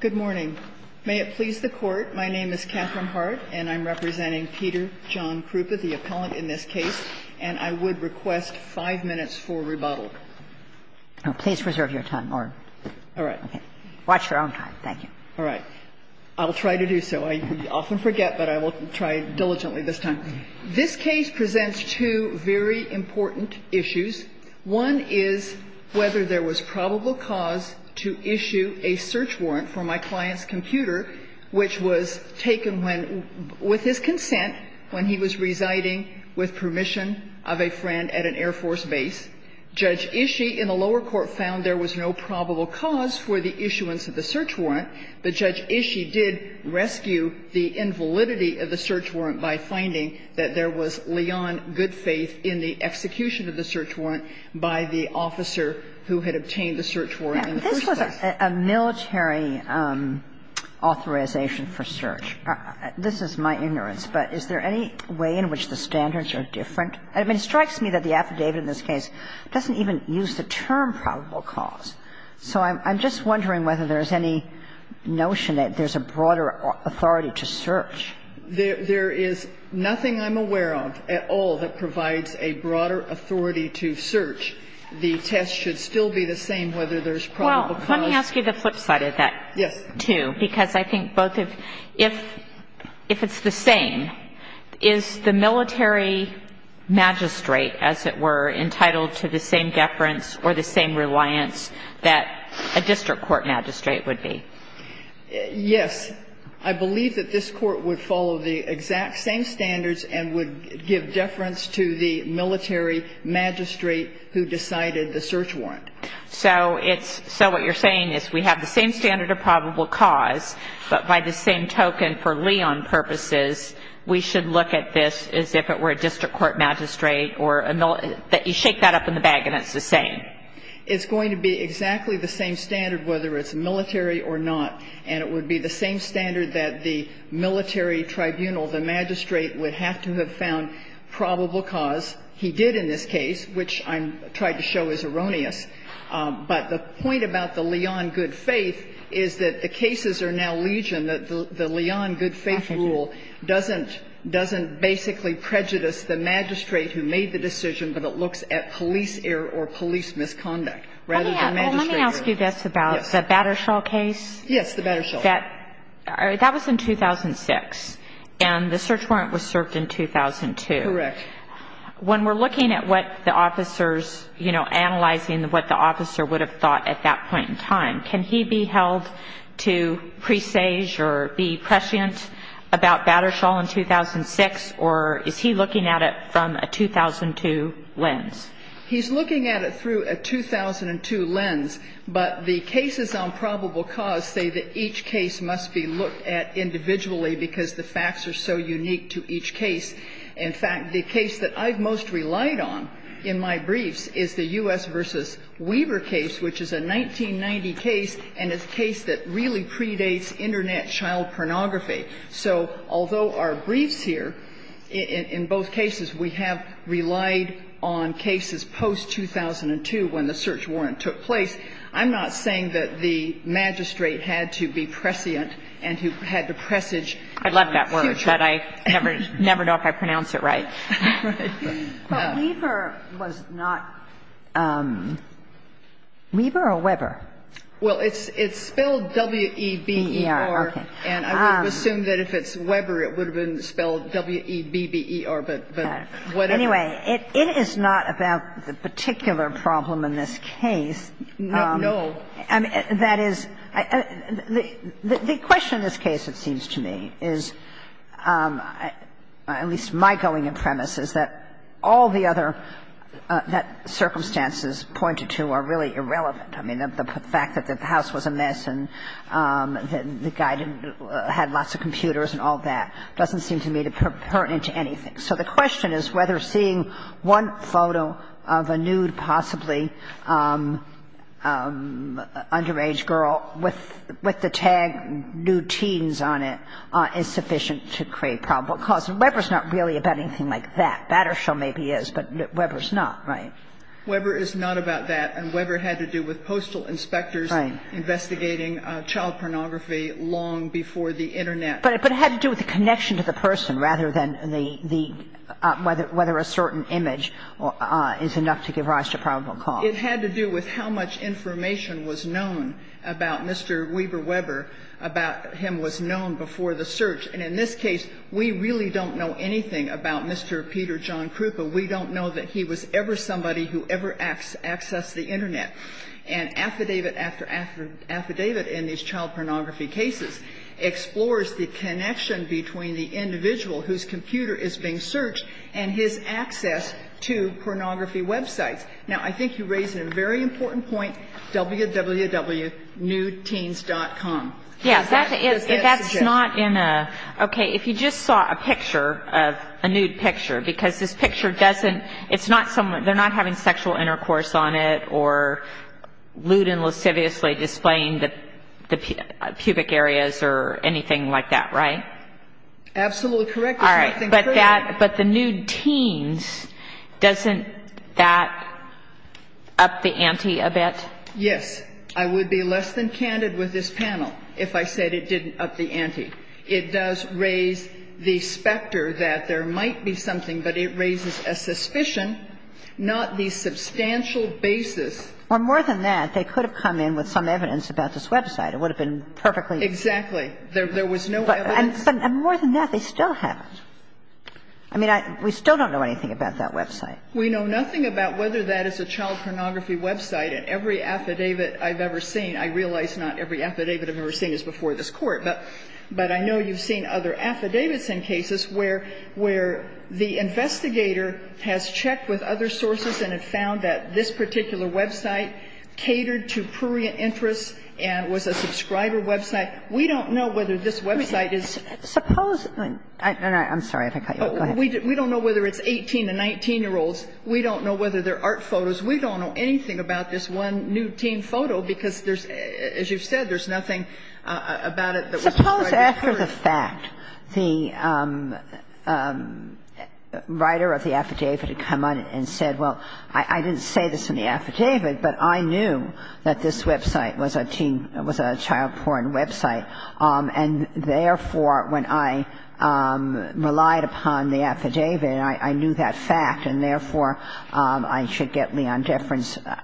Good morning. May it please the Court, my name is Catherine Hart, and I'm representing Peter John Krupa, the appellant in this case, and I would request five minutes for rebuttal. Please reserve your time. All right. Watch your own time. Thank you. All right. I'll try to do so. I often forget, but I will try diligently this time. This case presents two very important issues. One is whether there was probable cause to issue a search warrant for my client's computer, which was taken when — with his consent when he was residing with permission of a friend at an Air Force base. Judge Ishii in the lower court found there was no probable cause for the issuance of the search warrant, but Judge Ishii did rescue the invalidity of the search warrant by finding that there was Leon Goodfaith in the execution of the search warrant by the officer who had obtained the search warrant in the first place. This was a military authorization for search. This is my ignorance, but is there any way in which the standards are different? I mean, it strikes me that the affidavit in this case doesn't even use the term probable cause. So I'm just wondering whether there's any notion that there's a broader authority to search. There is nothing I'm aware of at all that provides a broader authority to search. The test should still be the same whether there's probable cause. Well, let me ask you the flip side of that, too, because I think both of — if it's the same, is the military magistrate, as it were, entitled to the same deference or the same reliance that a district court magistrate would be? Yes. I believe that this Court would follow the exact same standards and would give deference to the military magistrate who decided the search warrant. So it's — so what you're saying is we have the same standard of probable cause, but by the same token, for Leon purposes, we should look at this as if it were a district court magistrate or a — that you shake that up in the bag and it's the same. It's going to be exactly the same standard whether it's military or not, and it would be the same standard that the military tribunal, the magistrate, would have to have found probable cause. He did in this case, which I'm trying to show is erroneous. But the point about the Leon good faith is that the cases are now legion, that the Leon good faith rule doesn't — doesn't basically prejudice the magistrate who made the decision, but it looks at police error or police misconduct rather than magistrate error. Well, let me ask you this about the Battershall case. Yes, the Battershall. That was in 2006, and the search warrant was served in 2002. Correct. When we're looking at what the officers, you know, analyzing what the officer would have thought at that point in time, can he be held to presage or be prescient about Battershall in 2006, or is he looking at it from a 2002 lens? He's looking at it through a 2002 lens, but the cases on probable cause say that each case must be looked at individually because the facts are so unique to each case. In fact, the case that I've most relied on in my briefs is the U.S. v. Weaver case, which is a 1990 case, and it's a case that really predates Internet child pornography. So although our briefs here, in both cases, we have relied on cases post-2002 when the search warrant took place, I'm not saying that the magistrate had to be prescient and who had to presage. I love that word, but I never know if I pronounced it right. But Weaver was not – Weaver or Weber? Well, it's spelled W-E-B-E-R, and I would assume that if it's Weber, it would have been spelled W-E-B-B-E-R, but whatever. Anyway, it is not about the particular problem in this case. No. I mean, that is – the question in this case, it seems to me, is – at least my going and premise is that all the other circumstances pointed to are really irrelevant. I mean, the fact that the house was a mess and the guy didn't – had lots of computers and all that doesn't seem to me to pertain to anything. So the question is whether seeing one photo of a nude, possibly underage girl with the tag nude teens on it is sufficient to create probable cause. And Weber's not really about anything like that. Battershill maybe is, but Weber's not, right? Weber is not about that, and Weber had to do with postal inspectors investigating child pornography long before the Internet. But it had to do with the connection to the person rather than the – whether a certain image is enough to give rise to probable cause. It had to do with how much information was known about Mr. Weaver Weber, about him was known before the search. And in this case, we really don't know anything about Mr. Peter John Krupa. We don't know that he was ever somebody who ever accessed the Internet. And affidavit after affidavit in these child pornography cases explores the connection between the individual whose computer is being searched and his access to pornography websites. Now, I think you raise a very important point, www.nudeteens.com. Yes, that is, but that's not in a – okay, if you just saw a picture, a nude picture, because this picture doesn't – it's not someone – they're not having sexual intercourse on it or lewd and lasciviously displaying the pubic areas or anything like that, right? Absolutely correct. All right. But that – but the nude teens, doesn't that up the ante a bit? Yes. I would be less than candid with this panel if I said it didn't up the ante. It does raise the specter that there might be something, but it raises a suspicion, not the substantial basis. Well, more than that, they could have come in with some evidence about this website. It would have been perfectly – Exactly. There was no evidence. But – and more than that, they still haven't. I mean, I – we still don't know anything about that website. We know nothing about whether that is a child pornography website. And every affidavit I've ever seen – I realize not every affidavit I've ever seen is before this Court, but I know you've seen other affidavits in cases where the investigator has checked with other sources and have found that this particular website catered to prurient interests and was a subscriber website. We don't know whether this website is – Suppose – I'm sorry if I cut you off. Go ahead. We don't know whether it's 18- to 19-year-olds. We don't know whether they're art photos. We don't know anything about this one nude teen photo because there's – as you've said, there's nothing about it that was provided to the Court. Suppose after the fact, the writer of the affidavit had come on and said, well, I didn't say this in the affidavit, but I knew that this website was a teen – was a child porn website. And therefore, when I relied upon the affidavit, I knew that fact. And therefore, I should get Leon Deference. What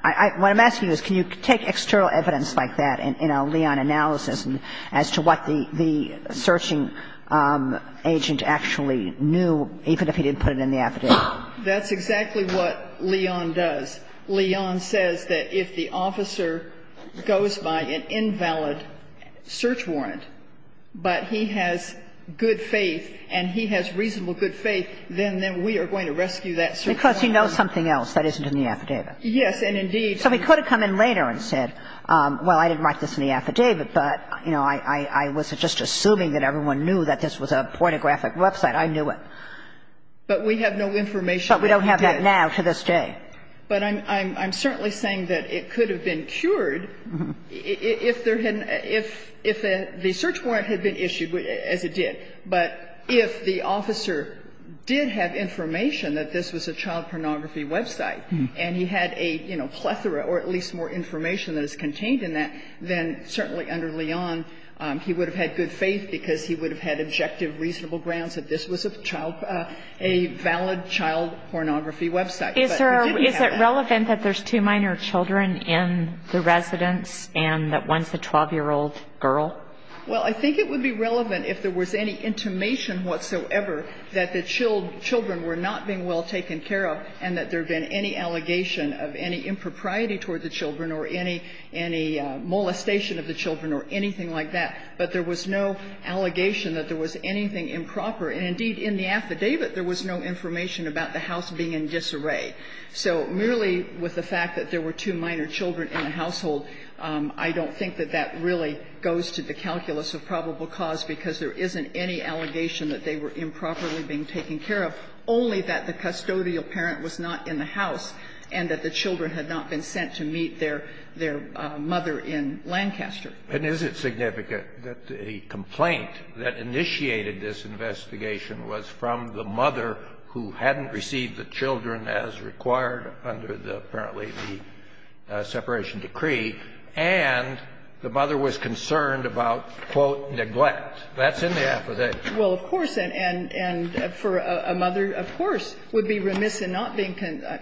I'm asking is, can you take external evidence like that in a Leon analysis as to what the searching agent actually knew, even if he didn't put it in the affidavit? That's exactly what Leon does. Leon says that if the officer goes by an invalid search warrant, but he has good faith and he has reasonable good faith, then we are going to rescue that search warrant. Because he knows something else that isn't in the affidavit. Yes, and indeed – So he could have come in later and said, well, I didn't write this in the affidavit, but, you know, I wasn't just assuming that everyone knew that this was a pornographic website. I knew it. But we have no information. But we don't have that now to this day. But I'm certainly saying that it could have been cured if there had – if the search warrant had been issued as it did. But if the officer did have information that this was a child pornography website, and he had a, you know, plethora or at least more information that is contained in that, then certainly under Leon, he would have had good faith because he would have had objective, reasonable grounds that this was a child – a valid child But he didn't have that. Is there – is it relevant that there's two minor children in the residence and that one's a 12-year-old girl? Well, I think it would be relevant if there was any intimation whatsoever that the children were not being well taken care of and that there had been any allegation of any impropriety toward the children or any – any molestation of the children or anything like that. But there was no allegation that there was anything improper. And, indeed, in the affidavit, there was no information about the house being in disarray. So merely with the fact that there were two minor children in the household, I don't think that that really goes to the calculus of probable cause because there isn't any allegation that they were improperly being taken care of, only that the custodial parent was not in the house and that the children had not been sent to meet their – their mother in Lancaster. And is it significant that the complaint that initiated this investigation was from the mother who hadn't received the children as required under the – apparently the separation decree, and the mother was concerned about, quote, neglect? That's in the affidavit. Well, of course. And for a mother, of course, would be remiss in not being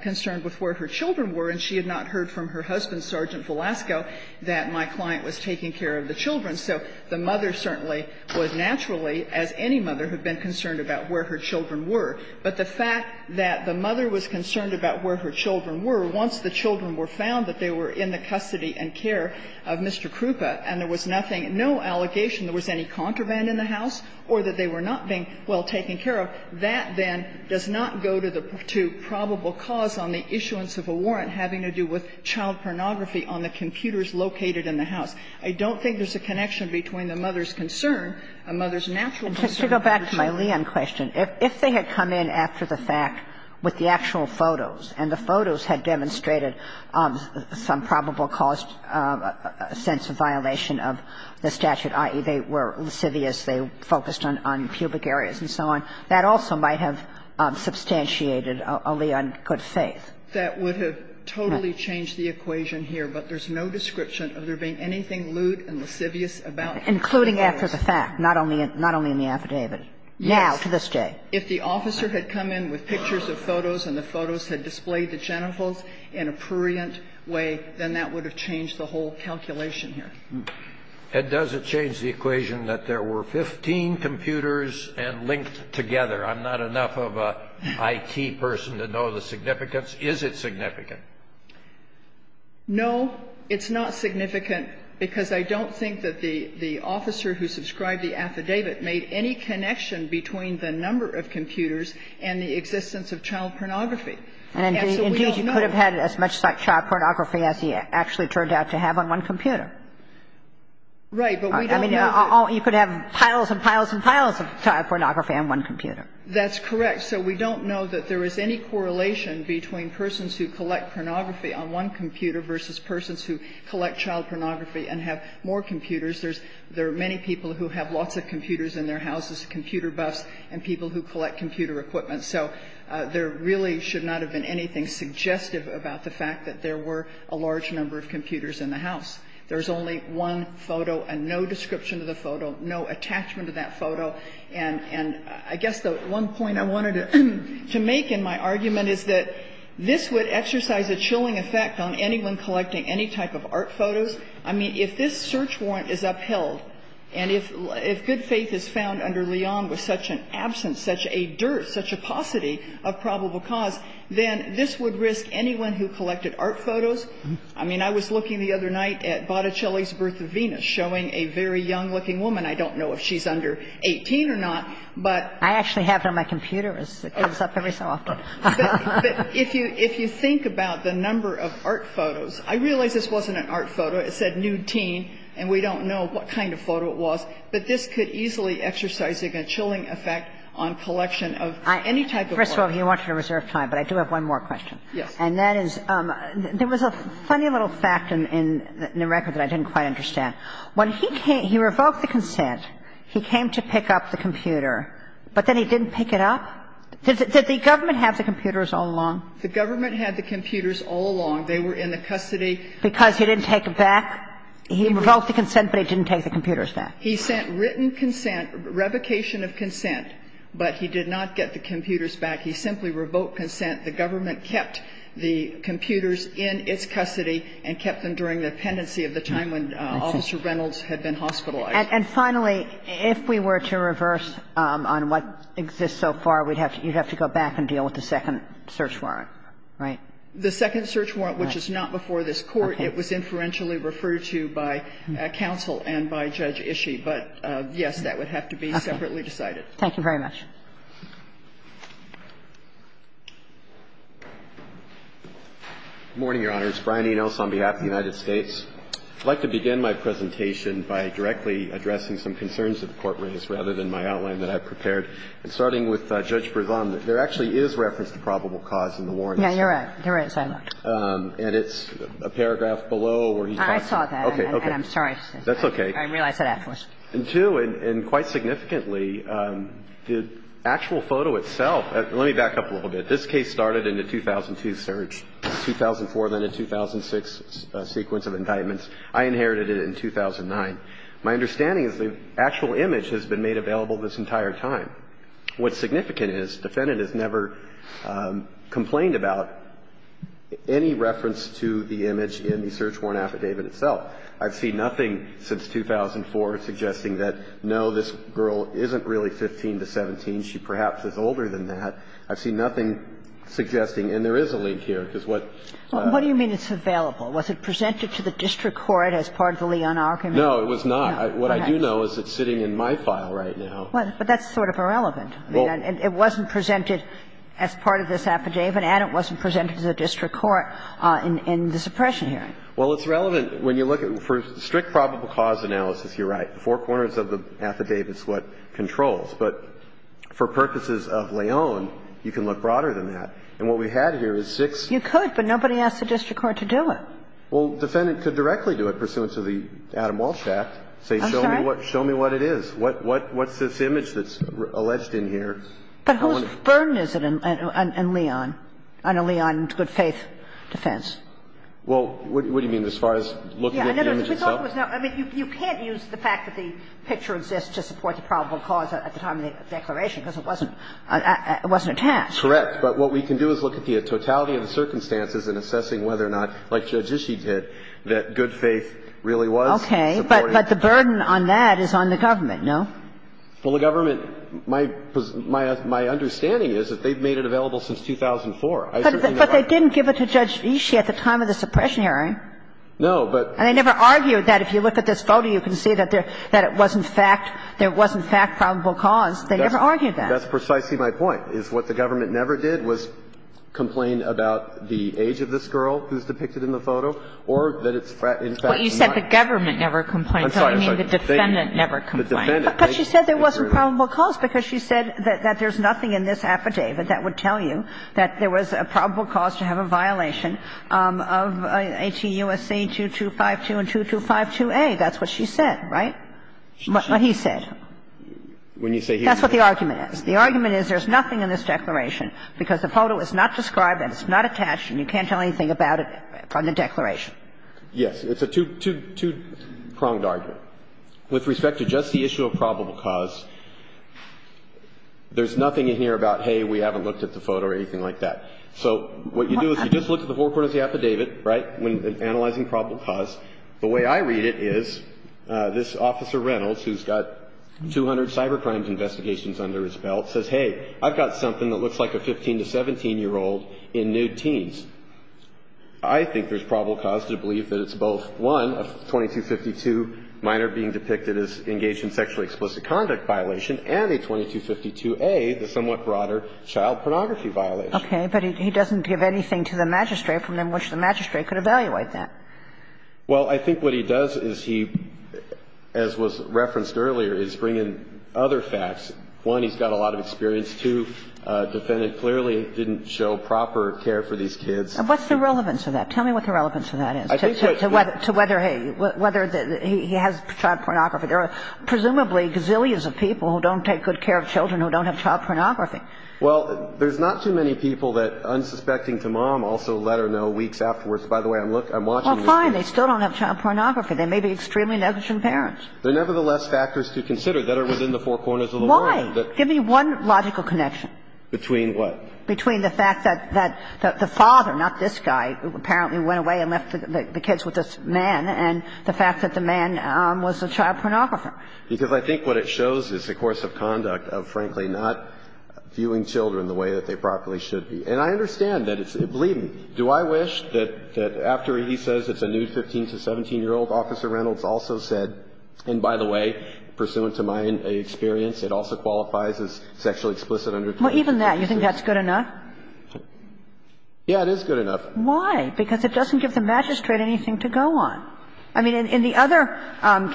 concerned with where her children were. And she had not heard from her husband, Sergeant Velasco, that my client was taking care of the children. So the mother certainly was naturally, as any mother, had been concerned about where her children were. But the fact that the mother was concerned about where her children were, once the children were found, that they were in the custody and care of Mr. Krupa, and there was nothing – no allegation there was any contraband in the house or that they were not being well taken care of, that then does not go to the – to probable cause on the issuance of a warrant having to do with child pornography on the computers located in the house. I don't think there's a connection between the mother's concern and mother's natural concern. And just to go back to my Leon question, if they had come in after the fact with the statute, i.e., they were lascivious, they focused on pubic areas and so on, that also might have substantiated a Leon good faith. That would have totally changed the equation here, but there's no description of there being anything lewd and lascivious about her. Including after the fact, not only in the affidavit. Yes. Now, to this day. If the officer had come in with pictures of photos and the photos had displayed the genitals in a prurient way, then that would have changed the whole calculation here. And does it change the equation that there were 15 computers and linked together? I'm not enough of an IT person to know the significance. Is it significant? No. It's not significant because I don't think that the officer who subscribed the affidavit made any connection between the number of computers and the existence of child pornography. And indeed, you could have had as much child pornography as he actually turned out to have on one computer. Right. But we don't know that. I mean, you could have piles and piles and piles of child pornography on one computer. That's correct. So we don't know that there is any correlation between persons who collect pornography on one computer versus persons who collect child pornography and have more computers. There are many people who have lots of computers in their houses, computer buffs, and people who collect computer equipment. So there really should not have been anything suggestive about the fact that there were a large number of computers in the house. There's only one photo and no description of the photo, no attachment to that photo. And I guess the one point I wanted to make in my argument is that this would exercise a chilling effect on anyone collecting any type of art photos. I mean, if this search warrant is upheld and if good faith is found under Leon with such an absence, such a dearth, such a paucity of probable cause, then this would risk anyone who collected art photos. I mean, I was looking the other night at Botticelli's Birth of Venus showing a very young-looking woman. I don't know if she's under 18 or not, but ---- I actually have her on my computer. It comes up every so often. But if you think about the number of art photos, I realize this wasn't an art photo. It said nude teen, and we don't know what kind of photo it was. But this could easily exercise a chilling effect on collection of any type of art. First of all, if you want to reserve time, but I do have one more question. Yes. And that is, there was a funny little fact in the record that I didn't quite understand. When he revoked the consent, he came to pick up the computer, but then he didn't pick it up? Did the government have the computers all along? The government had the computers all along. They were in the custody. Because he didn't take them back? He revoked the consent, but he didn't take the computers back. He sent written consent, revocation of consent, but he did not get the computers back. He simply revoked consent. The government kept the computers in its custody and kept them during the pendency of the time when Officer Reynolds had been hospitalized. And finally, if we were to reverse on what exists so far, we'd have to go back and deal with the second search warrant, right? The second search warrant, which is not before this Court. It was inferentially referred to by counsel and by Judge Ishii. But, yes, that would have to be separately decided. Thank you very much. Good morning, Your Honor. It's Brian Enos on behalf of the United States. I'd like to begin my presentation by directly addressing some concerns that the Court raised, rather than my outline that I've prepared. And starting with Judge Bregon, there actually is reference to probable cause in the warrants. Yeah, you're right. You're right, Senator. And it's a paragraph below where he talks about the case. I saw that, and I'm sorry. That's okay. I realized that afterwards. And, too, and quite significantly, the actual photo itself – let me back up a little bit. This case started in the 2002 search, 2004, then a 2006 sequence of indictments. I inherited it in 2009. My understanding is the actual image has been made available this entire time. What's significant is defendant has never complained about any reference to the image in the search warrant affidavit itself. I've seen nothing since 2004 suggesting that, no, this girl isn't really 15 to 17. She perhaps is older than that. I've seen nothing suggesting – and there is a link here, because what – What do you mean it's available? Was it presented to the district court as part of the Leon argument? No, it was not. What I do know is it's sitting in my file right now. But that's sort of irrelevant. I mean, it wasn't presented as part of this affidavit, and it wasn't presented to the district court in the suppression hearing. Well, it's relevant when you look at – for strict probable cause analysis, you're right. Four corners of the affidavit is what controls. But for purposes of Leon, you can look broader than that. And what we had here is six – You could, but nobody asked the district court to do it. Well, defendant could directly do it pursuant to the Adam Walsh Act, say, show me what it is. What's this image that's alleged in here? But whose burden is it on Leon, on a Leon good-faith defense? Well, what do you mean as far as looking at the image itself? I mean, you can't use the fact that the picture exists to support the probable cause at the time of the declaration, because it wasn't attached. Correct. But what we can do is look at the totality of the circumstances in assessing whether or not, like Judge Ishii did, that good faith really was supported. But the burden on that is on the government, no? Well, the government – my understanding is that they've made it available since 2004. I certainly know that. But they didn't give it to Judge Ishii at the time of the suppression hearing. No, but – And they never argued that. If you look at this photo, you can see that it wasn't fact. There wasn't fact probable cause. They never argued that. That's precisely my point, is what the government never did was complain about the age of this girl who's depicted in the photo or that it's in fact not. But you said the government never complained, so you mean the defendant never complained. But she said there wasn't probable cause, because she said that there's nothing in this affidavit that would tell you that there was a probable cause to have a violation of 18 U.S.C. 2252 and 2252A. That's what she said, right? What he said. That's what the argument is. The argument is there's nothing in this declaration because the photo is not described and it's not attached and you can't tell anything about it from the declaration. It's a two-pronged argument. With respect to just the issue of probable cause, there's nothing in here about, hey, we haven't looked at the photo or anything like that. So what you do is you just look at the forecourt of the affidavit, right, when analyzing probable cause. The way I read it is this Officer Reynolds, who's got 200 cybercrime investigations under his belt, says, hey, I've got something that looks like a 15- to 17-year-old in nude teens. I think there's probable cause to believe that it's both, one, a 2252 minor being depicted as engaged in sexually explicit conduct violation and a 2252A, the somewhat broader child pornography violation. Okay. But he doesn't give anything to the magistrate from which the magistrate could evaluate that. Well, I think what he does is he, as was referenced earlier, is bring in other facts. One, he's got a lot of experience. Two, the defendant clearly didn't show proper care for these kids. And what's the relevance of that? Tell me what the relevance of that is to whether he has child pornography. There are presumably gazillions of people who don't take good care of children who don't have child pornography. Well, there's not too many people that, unsuspecting to mom, also let her know weeks afterwards, by the way, I'm watching this. Well, fine. They still don't have child pornography. They may be extremely negligent parents. They're nevertheless factors to consider that are within the four corners of the room. Give me one logical connection. Between what? Between the fact that the father, not this guy, apparently went away and left the kids with this man, and the fact that the man was a child pornographer. Because I think what it shows is the course of conduct of, frankly, not viewing children the way that they properly should be. And I understand that. Believe me, do I wish that after he says it's a new 15 to 17-year-old, Officer Reynolds also said, and by the way, pursuant to my experience, it also qualified as sexually explicit under the Constitution. Well, even that, you think that's good enough? Yeah, it is good enough. Why? Because it doesn't give the magistrate anything to go on. I mean, in the other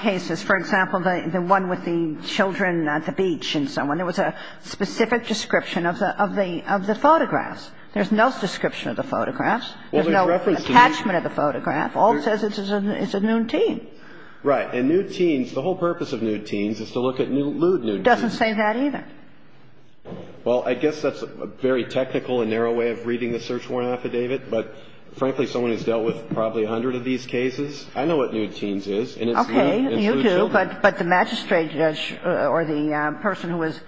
cases, for example, the one with the children at the beach and so on, there was a specific description of the photographs. There's no description of the photographs. There's no attachment of the photograph. All it says is it's a nude teen. Right. And nude teens, the whole purpose of nude teens is to look at lewd nude teens. It doesn't say that either. Well, I guess that's a very technical and narrow way of reading the search warrant affidavit, but, frankly, someone who's dealt with probably a hundred of these cases, I know what nude teens is. Okay. You do, but the magistrate or the person who was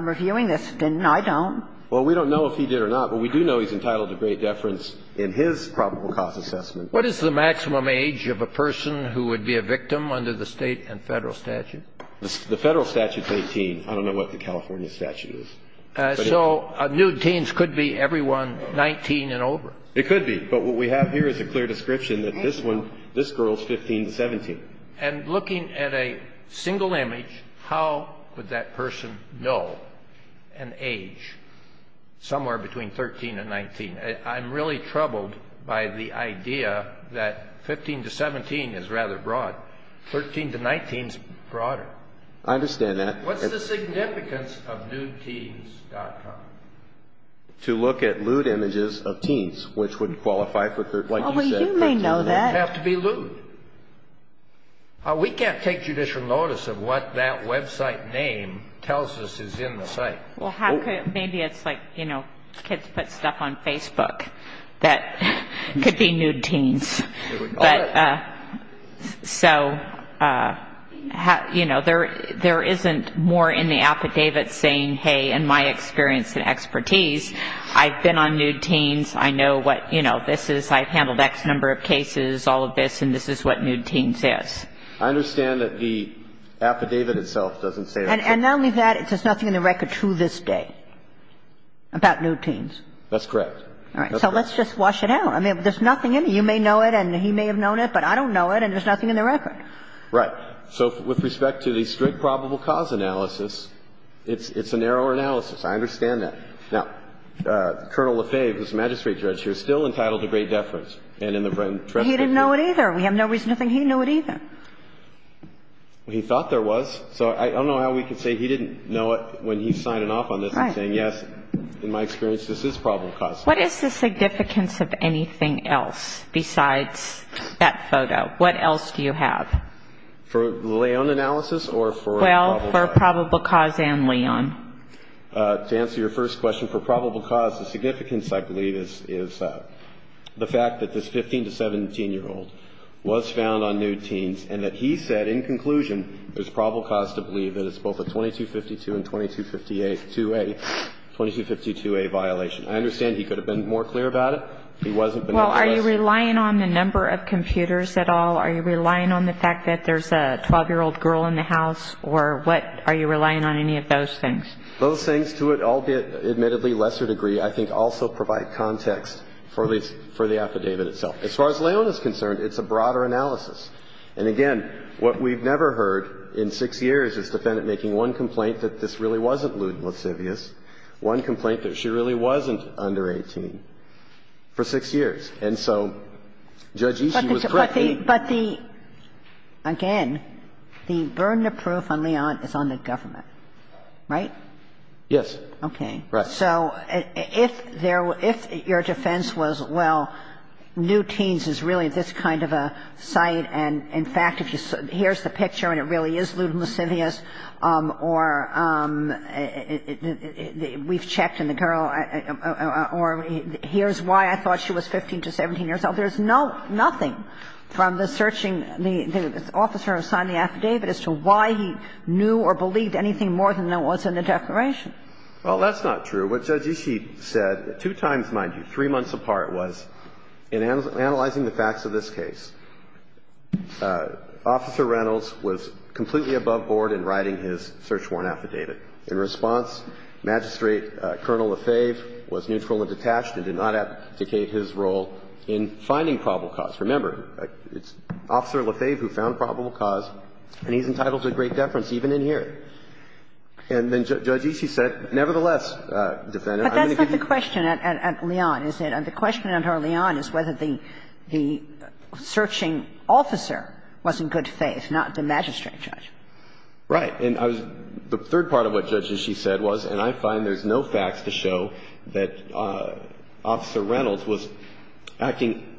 reviewing this didn't. I don't. Well, we don't know if he did or not, but we do know he's entitled to great deference in his probable cause assessment. What is the maximum age of a person who would be a victim under the State and Federal statute? The Federal statute's 18. I don't know what the California statute is. So nude teens could be everyone 19 and over. It could be, but what we have here is a clear description that this one, this girl's 15 to 17. And looking at a single image, how would that person know an age somewhere between 13 and 19? I'm really troubled by the idea that 15 to 17 is rather broad. 13 to 19 is broader. I understand that. What's the significance of nudeteens.com? To look at lewd images of teens, which wouldn't qualify for, like you said, 13 to 19. Well, you may know that. It would have to be lewd. We can't take judicial notice of what that website name tells us is in the site. Well, how could it? Maybe it's like, you know, kids put stuff on Facebook that could be nude teens. So, you know, there isn't more in the affidavit saying, hey, in my experience and expertise, I've been on nude teens, I know what, you know, this is, I've handled X number of cases, all of this, and this is what nude teens is. I understand that the affidavit itself doesn't say that. And not only that, there's nothing in the record to this day about nude teens. That's correct. All right. So let's just wash it out. I mean, there's nothing in it. You may know it, and he may have known it, but I don't know it, and there's nothing in the record. Right. So with respect to the strict probable cause analysis, it's a narrower analysis. I understand that. Now, Colonel Lefebvre, who's the magistrate judge here, is still entitled to great deference. And in the Brenton Trestle case. He didn't know it either. We have no reason to think he knew it either. Well, he thought there was. So I don't know how we can say he didn't know it when he's signing off on this and saying, yes, in my experience, this is probable cause. What is the significance of anything else besides that photo? What else do you have? For Leon analysis or for probable cause? Well, for probable cause and Leon. To answer your first question, for probable cause, the significance, I believe, is the fact that this 15- to 17-year-old was found on nude teens and that he said, in conclusion, there's probable cause to believe that it's both a 2252 and 2252A violation. I understand he could have been more clear about it. He wasn't. Well, are you relying on the number of computers at all? Are you relying on the fact that there's a 12-year-old girl in the house? Or what? Are you relying on any of those things? Those things, to an admittedly lesser degree, I think also provide context for the affidavit itself. As far as Leon is concerned, it's a broader analysis. And again, what we've never heard in six years is the defendant making one complaint that this really wasn't lewd and lascivious, one complaint that she really wasn't under 18, for six years. And so Judge Ishii was correct. But the – again, the burden of proof on Leon is on the government, right? Yes. Okay. Right. So if there were – if your defense was, well, nude teens is really this kind of a And in fact, if you – here's the picture and it really is lewd and lascivious, or we've checked and the girl – or here's why I thought she was 15 to 17 years old. There's no – nothing from the searching – the officer who signed the affidavit as to why he knew or believed anything more than there was in the declaration. Well, that's not true. What Judge Ishii said, two times, mind you, three months apart, was in analyzing the facts of this case. Officer Reynolds was completely above board in writing his search warrant affidavit. In response, Magistrate Colonel Lefebvre was neutral and detached and did not advocate his role in finding probable cause. Remember, it's Officer Lefebvre who found probable cause, and he's entitled to great deference, even in here. And then Judge Ishii said, nevertheless, defendant, I'm going to give you – But that's not the question at Leon, is it? And the question at Leon is whether the searching officer was in good faith, not the magistrate judge. Right. And I was – the third part of what Judge Ishii said was, and I find there's no facts to show that Officer Reynolds was acting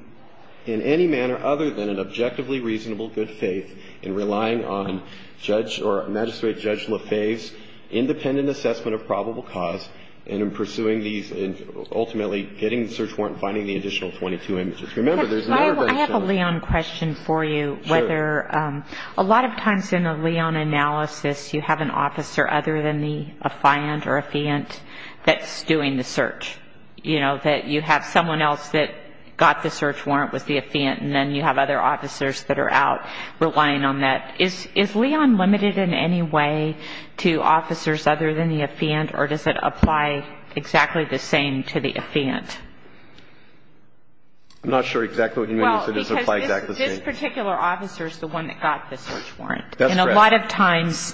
in any manner other than an objectively reasonable good faith in relying on Judge – or Magistrate Judge Lefebvre's finding the additional 22 images. Remember, there's – I have a Leon question for you. Sure. Whether – a lot of times in a Leon analysis, you have an officer other than the affiant or affiant that's doing the search. You know, that you have someone else that got the search warrant was the affiant, and then you have other officers that are out relying on that. Is Leon limited in any way to officers other than the affiant, or does it apply exactly the same to the affiant? I'm not sure exactly what you mean. Well, because this particular officer is the one that got the search warrant. That's correct. And a lot of times,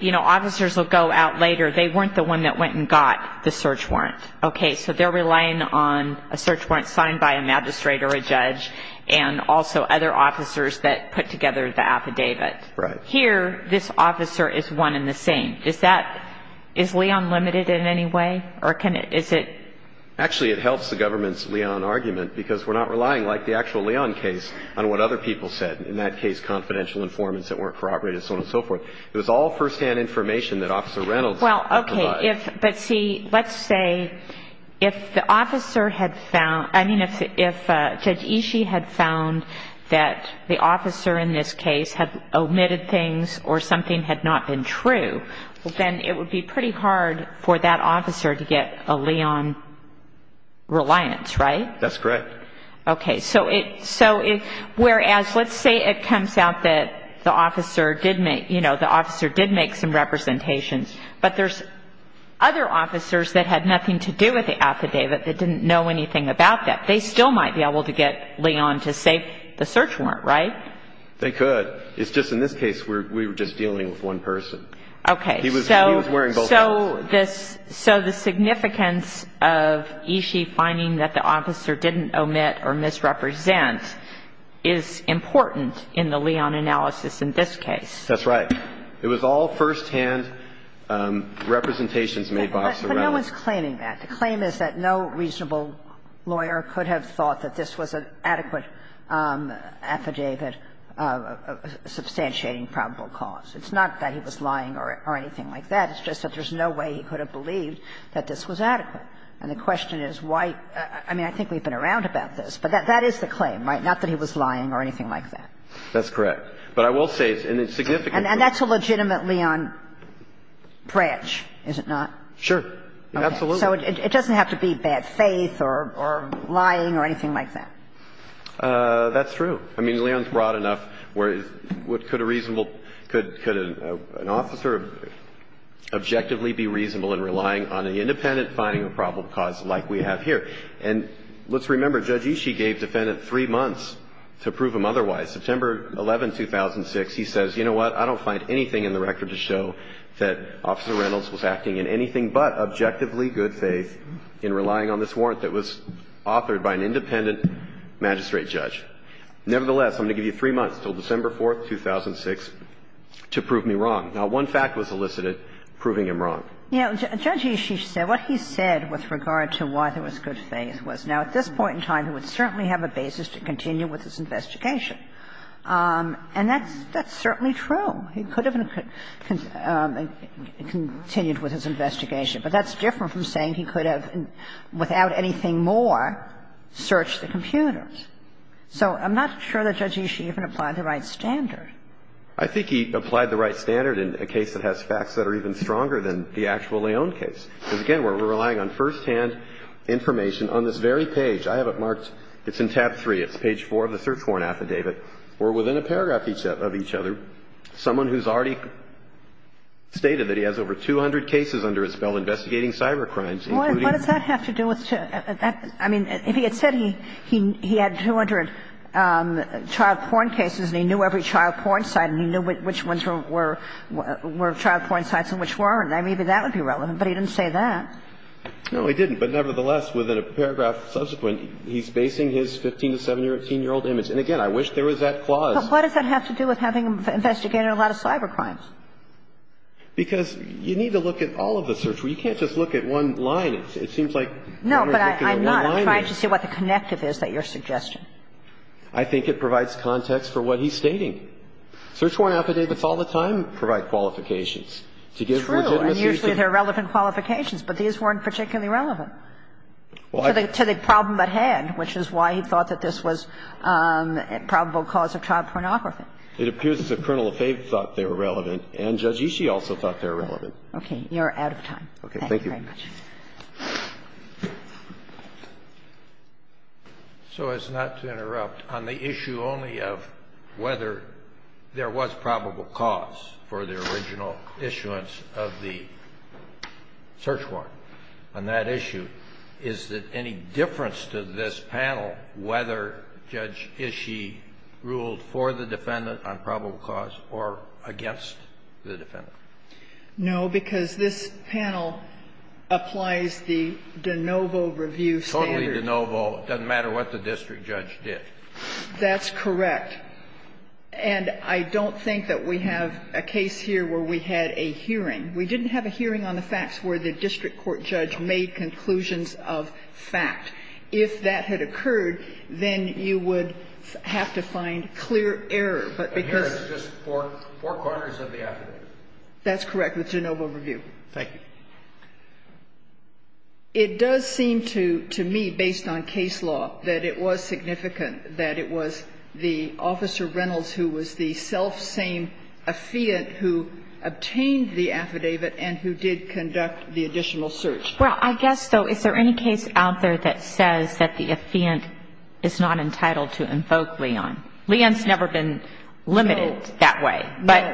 you know, officers will go out later. They weren't the one that went and got the search warrant. Okay, so they're relying on a search warrant signed by a magistrate or a judge and also other officers that put together the affidavit. Right. Here, this officer is one and the same. Is Leon limited in any way? Actually, it helps the government's Leon argument because we're not relying, like the actual Leon case, on what other people said. In that case, confidential informants that weren't corroborated, so on and so forth. It was all firsthand information that Officer Reynolds had provided. Well, okay. But see, let's say if the officer had found – I mean, if Judge Ishii had found that the officer in this case had omitted things or something had not been true, then it would be pretty hard for that officer to get a Leon reliance, right? That's correct. Okay. So whereas let's say it comes out that the officer did make some representations, but there's other officers that had nothing to do with the affidavit that didn't know anything about that. They still might be able to get Leon to say the search warrant, right? They could. It's just in this case, we were just dealing with one person. Okay. So the significance of Ishii finding that the officer didn't omit or misrepresent is important in the Leon analysis in this case. That's right. It was all firsthand representations made by Officer Reynolds. But no one's claiming that. The claim is that no reasonable lawyer could have thought that this was an adequate affidavit substantiating probable cause. It's not that he was lying or anything like that. It's just that there's no way he could have believed that this was adequate. And the question is why – I mean, I think we've been around about this, but that is the claim, right? Not that he was lying or anything like that. That's correct. But I will say it's a significant claim. And that's a legitimate Leon branch, is it not? Sure. Absolutely. So it doesn't have to be bad faith or lying or anything like that. That's true. I mean, Leon's broad enough where could a reasonable – could an officer objectively be reasonable in relying on an independent finding of probable cause like we have here? And let's remember, Judge Ishii gave defendant three months to prove him otherwise. September 11, 2006, he says, you know what, I don't find anything in the record to show that Officer Reynolds was acting in anything but objectively good faith in relying on this warrant that was authored by an independent magistrate judge. Nevertheless, I'm going to give you three months until December 4, 2006, to prove me wrong. Now, one fact was elicited proving him wrong. You know, Judge Ishii said what he said with regard to why there was good faith was, now, at this point in time, he would certainly have a basis to continue with his investigation. And that's certainly true. He could have continued with his investigation. But that's different from saying he could have, without anything more, searched the computers. So I'm not sure that Judge Ishii even applied the right standard. I think he applied the right standard in a case that has facts that are even stronger than the actual Leon case. Because, again, we're relying on firsthand information on this very page. I have it marked – it's in tab 3. It's page 4 of the search warrant affidavit. We're within a paragraph of each other. Someone who's already stated that he has over 200 cases under his belt investigating cybercrimes, including – He had 200 child porn cases, and he knew every child porn site, and he knew which ones were child porn sites and which weren't. I mean, even that would be relevant. But he didn't say that. No, he didn't. But, nevertheless, within a paragraph subsequent, he's basing his 15- to 17-year-old image. And, again, I wish there was that clause. But what does that have to do with having investigated a lot of cybercrimes? Because you need to look at all of the search warrants. You can't just look at one line. It seems like one is looking at one line. No, but I'm not. I'm trying to see what the connective is that you're suggesting. I think it provides context for what he's stating. Search warrant affidavits all the time provide qualifications. True. And usually they're relevant qualifications. But these weren't particularly relevant to the problem at hand, which is why he thought that this was a probable cause of child pornography. It appears that Colonel Lefebvre thought they were relevant, and Judge Ishii also thought they were relevant. You're out of time. Thank you very much. Thank you. So as not to interrupt, on the issue only of whether there was probable cause for the original issuance of the search warrant, on that issue, is there any difference to this panel whether Judge Ishii ruled for the defendant on probable cause or against the defendant? No, because this panel applies the de novo review standard. Totally de novo. It doesn't matter what the district judge did. That's correct. And I don't think that we have a case here where we had a hearing. We didn't have a hearing on the facts where the district court judge made conclusions of fact. If that had occurred, then you would have to find clear error, but because of the That's correct, the de novo review. Thank you. It does seem to me, based on case law, that it was significant that it was the Officer Reynolds who was the selfsame affiant who obtained the affidavit and who did conduct the additional search. Well, I guess, though, is there any case out there that says that the affiant is not entitled to invoke Leon? Leon's never been limited that way. But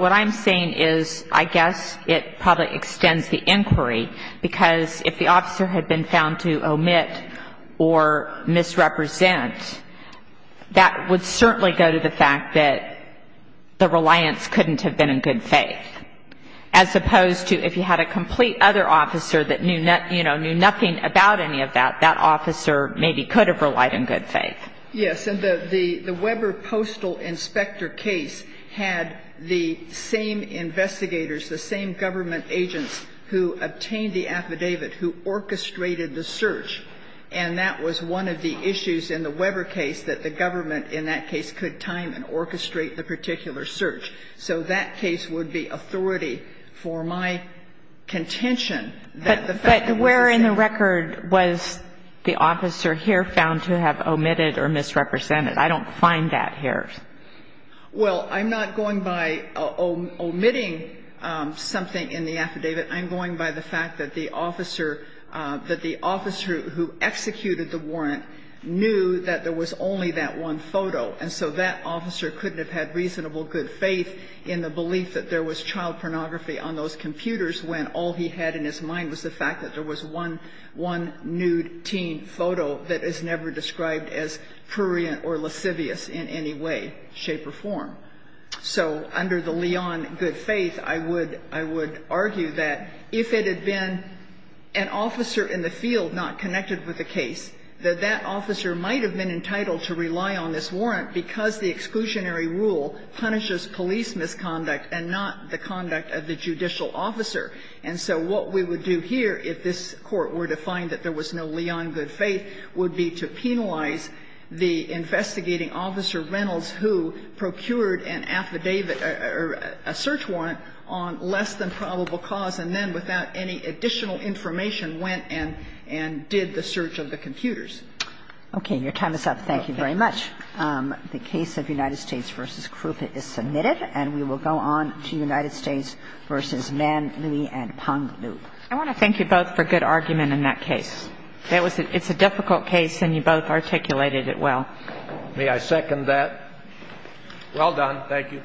what I'm saying is I guess it probably extends the inquiry, because if the officer had been found to omit or misrepresent, that would certainly go to the fact that the reliance couldn't have been in good faith, as opposed to if you had a complete other officer that knew nothing about any of that, that officer maybe could have relied in good faith. Yes. And the Weber Postal Inspector case had the same investigators, the same government agents who obtained the affidavit, who orchestrated the search. And that was one of the issues in the Weber case, that the government in that case could time and orchestrate the particular search. So that case would be authority for my contention that the fact that the officer was the officer here found to have omitted or misrepresented. I don't find that here. Well, I'm not going by omitting something in the affidavit. I'm going by the fact that the officer, that the officer who executed the warrant knew that there was only that one photo. And so that officer couldn't have had reasonable good faith in the belief that there was child pornography on those computers when all he had in his mind was the fact that there was one nude teen photo that is never described as prurient or lascivious in any way, shape, or form. So under the Leon good faith, I would argue that if it had been an officer in the field not connected with the case, that that officer might have been entitled to rely on this warrant because the exclusionary rule punishes police misconduct and not the conduct of the judicial officer. And so what we would do here, if this Court were to find that there was no Leon good faith, would be to penalize the investigating officer, Reynolds, who procured an affidavit or a search warrant on less than probable cause and then, without any additional information, went and did the search of the computers. Okay. Your time is up. Thank you very much. The case of United States v. Crouppen is submitted. And we will go on to United States v. Mann, Lui, and Pong Lui. I want to thank you both for good argument in that case. It's a difficult case, and you both articulated it well. May I second that? Well done. Thank you.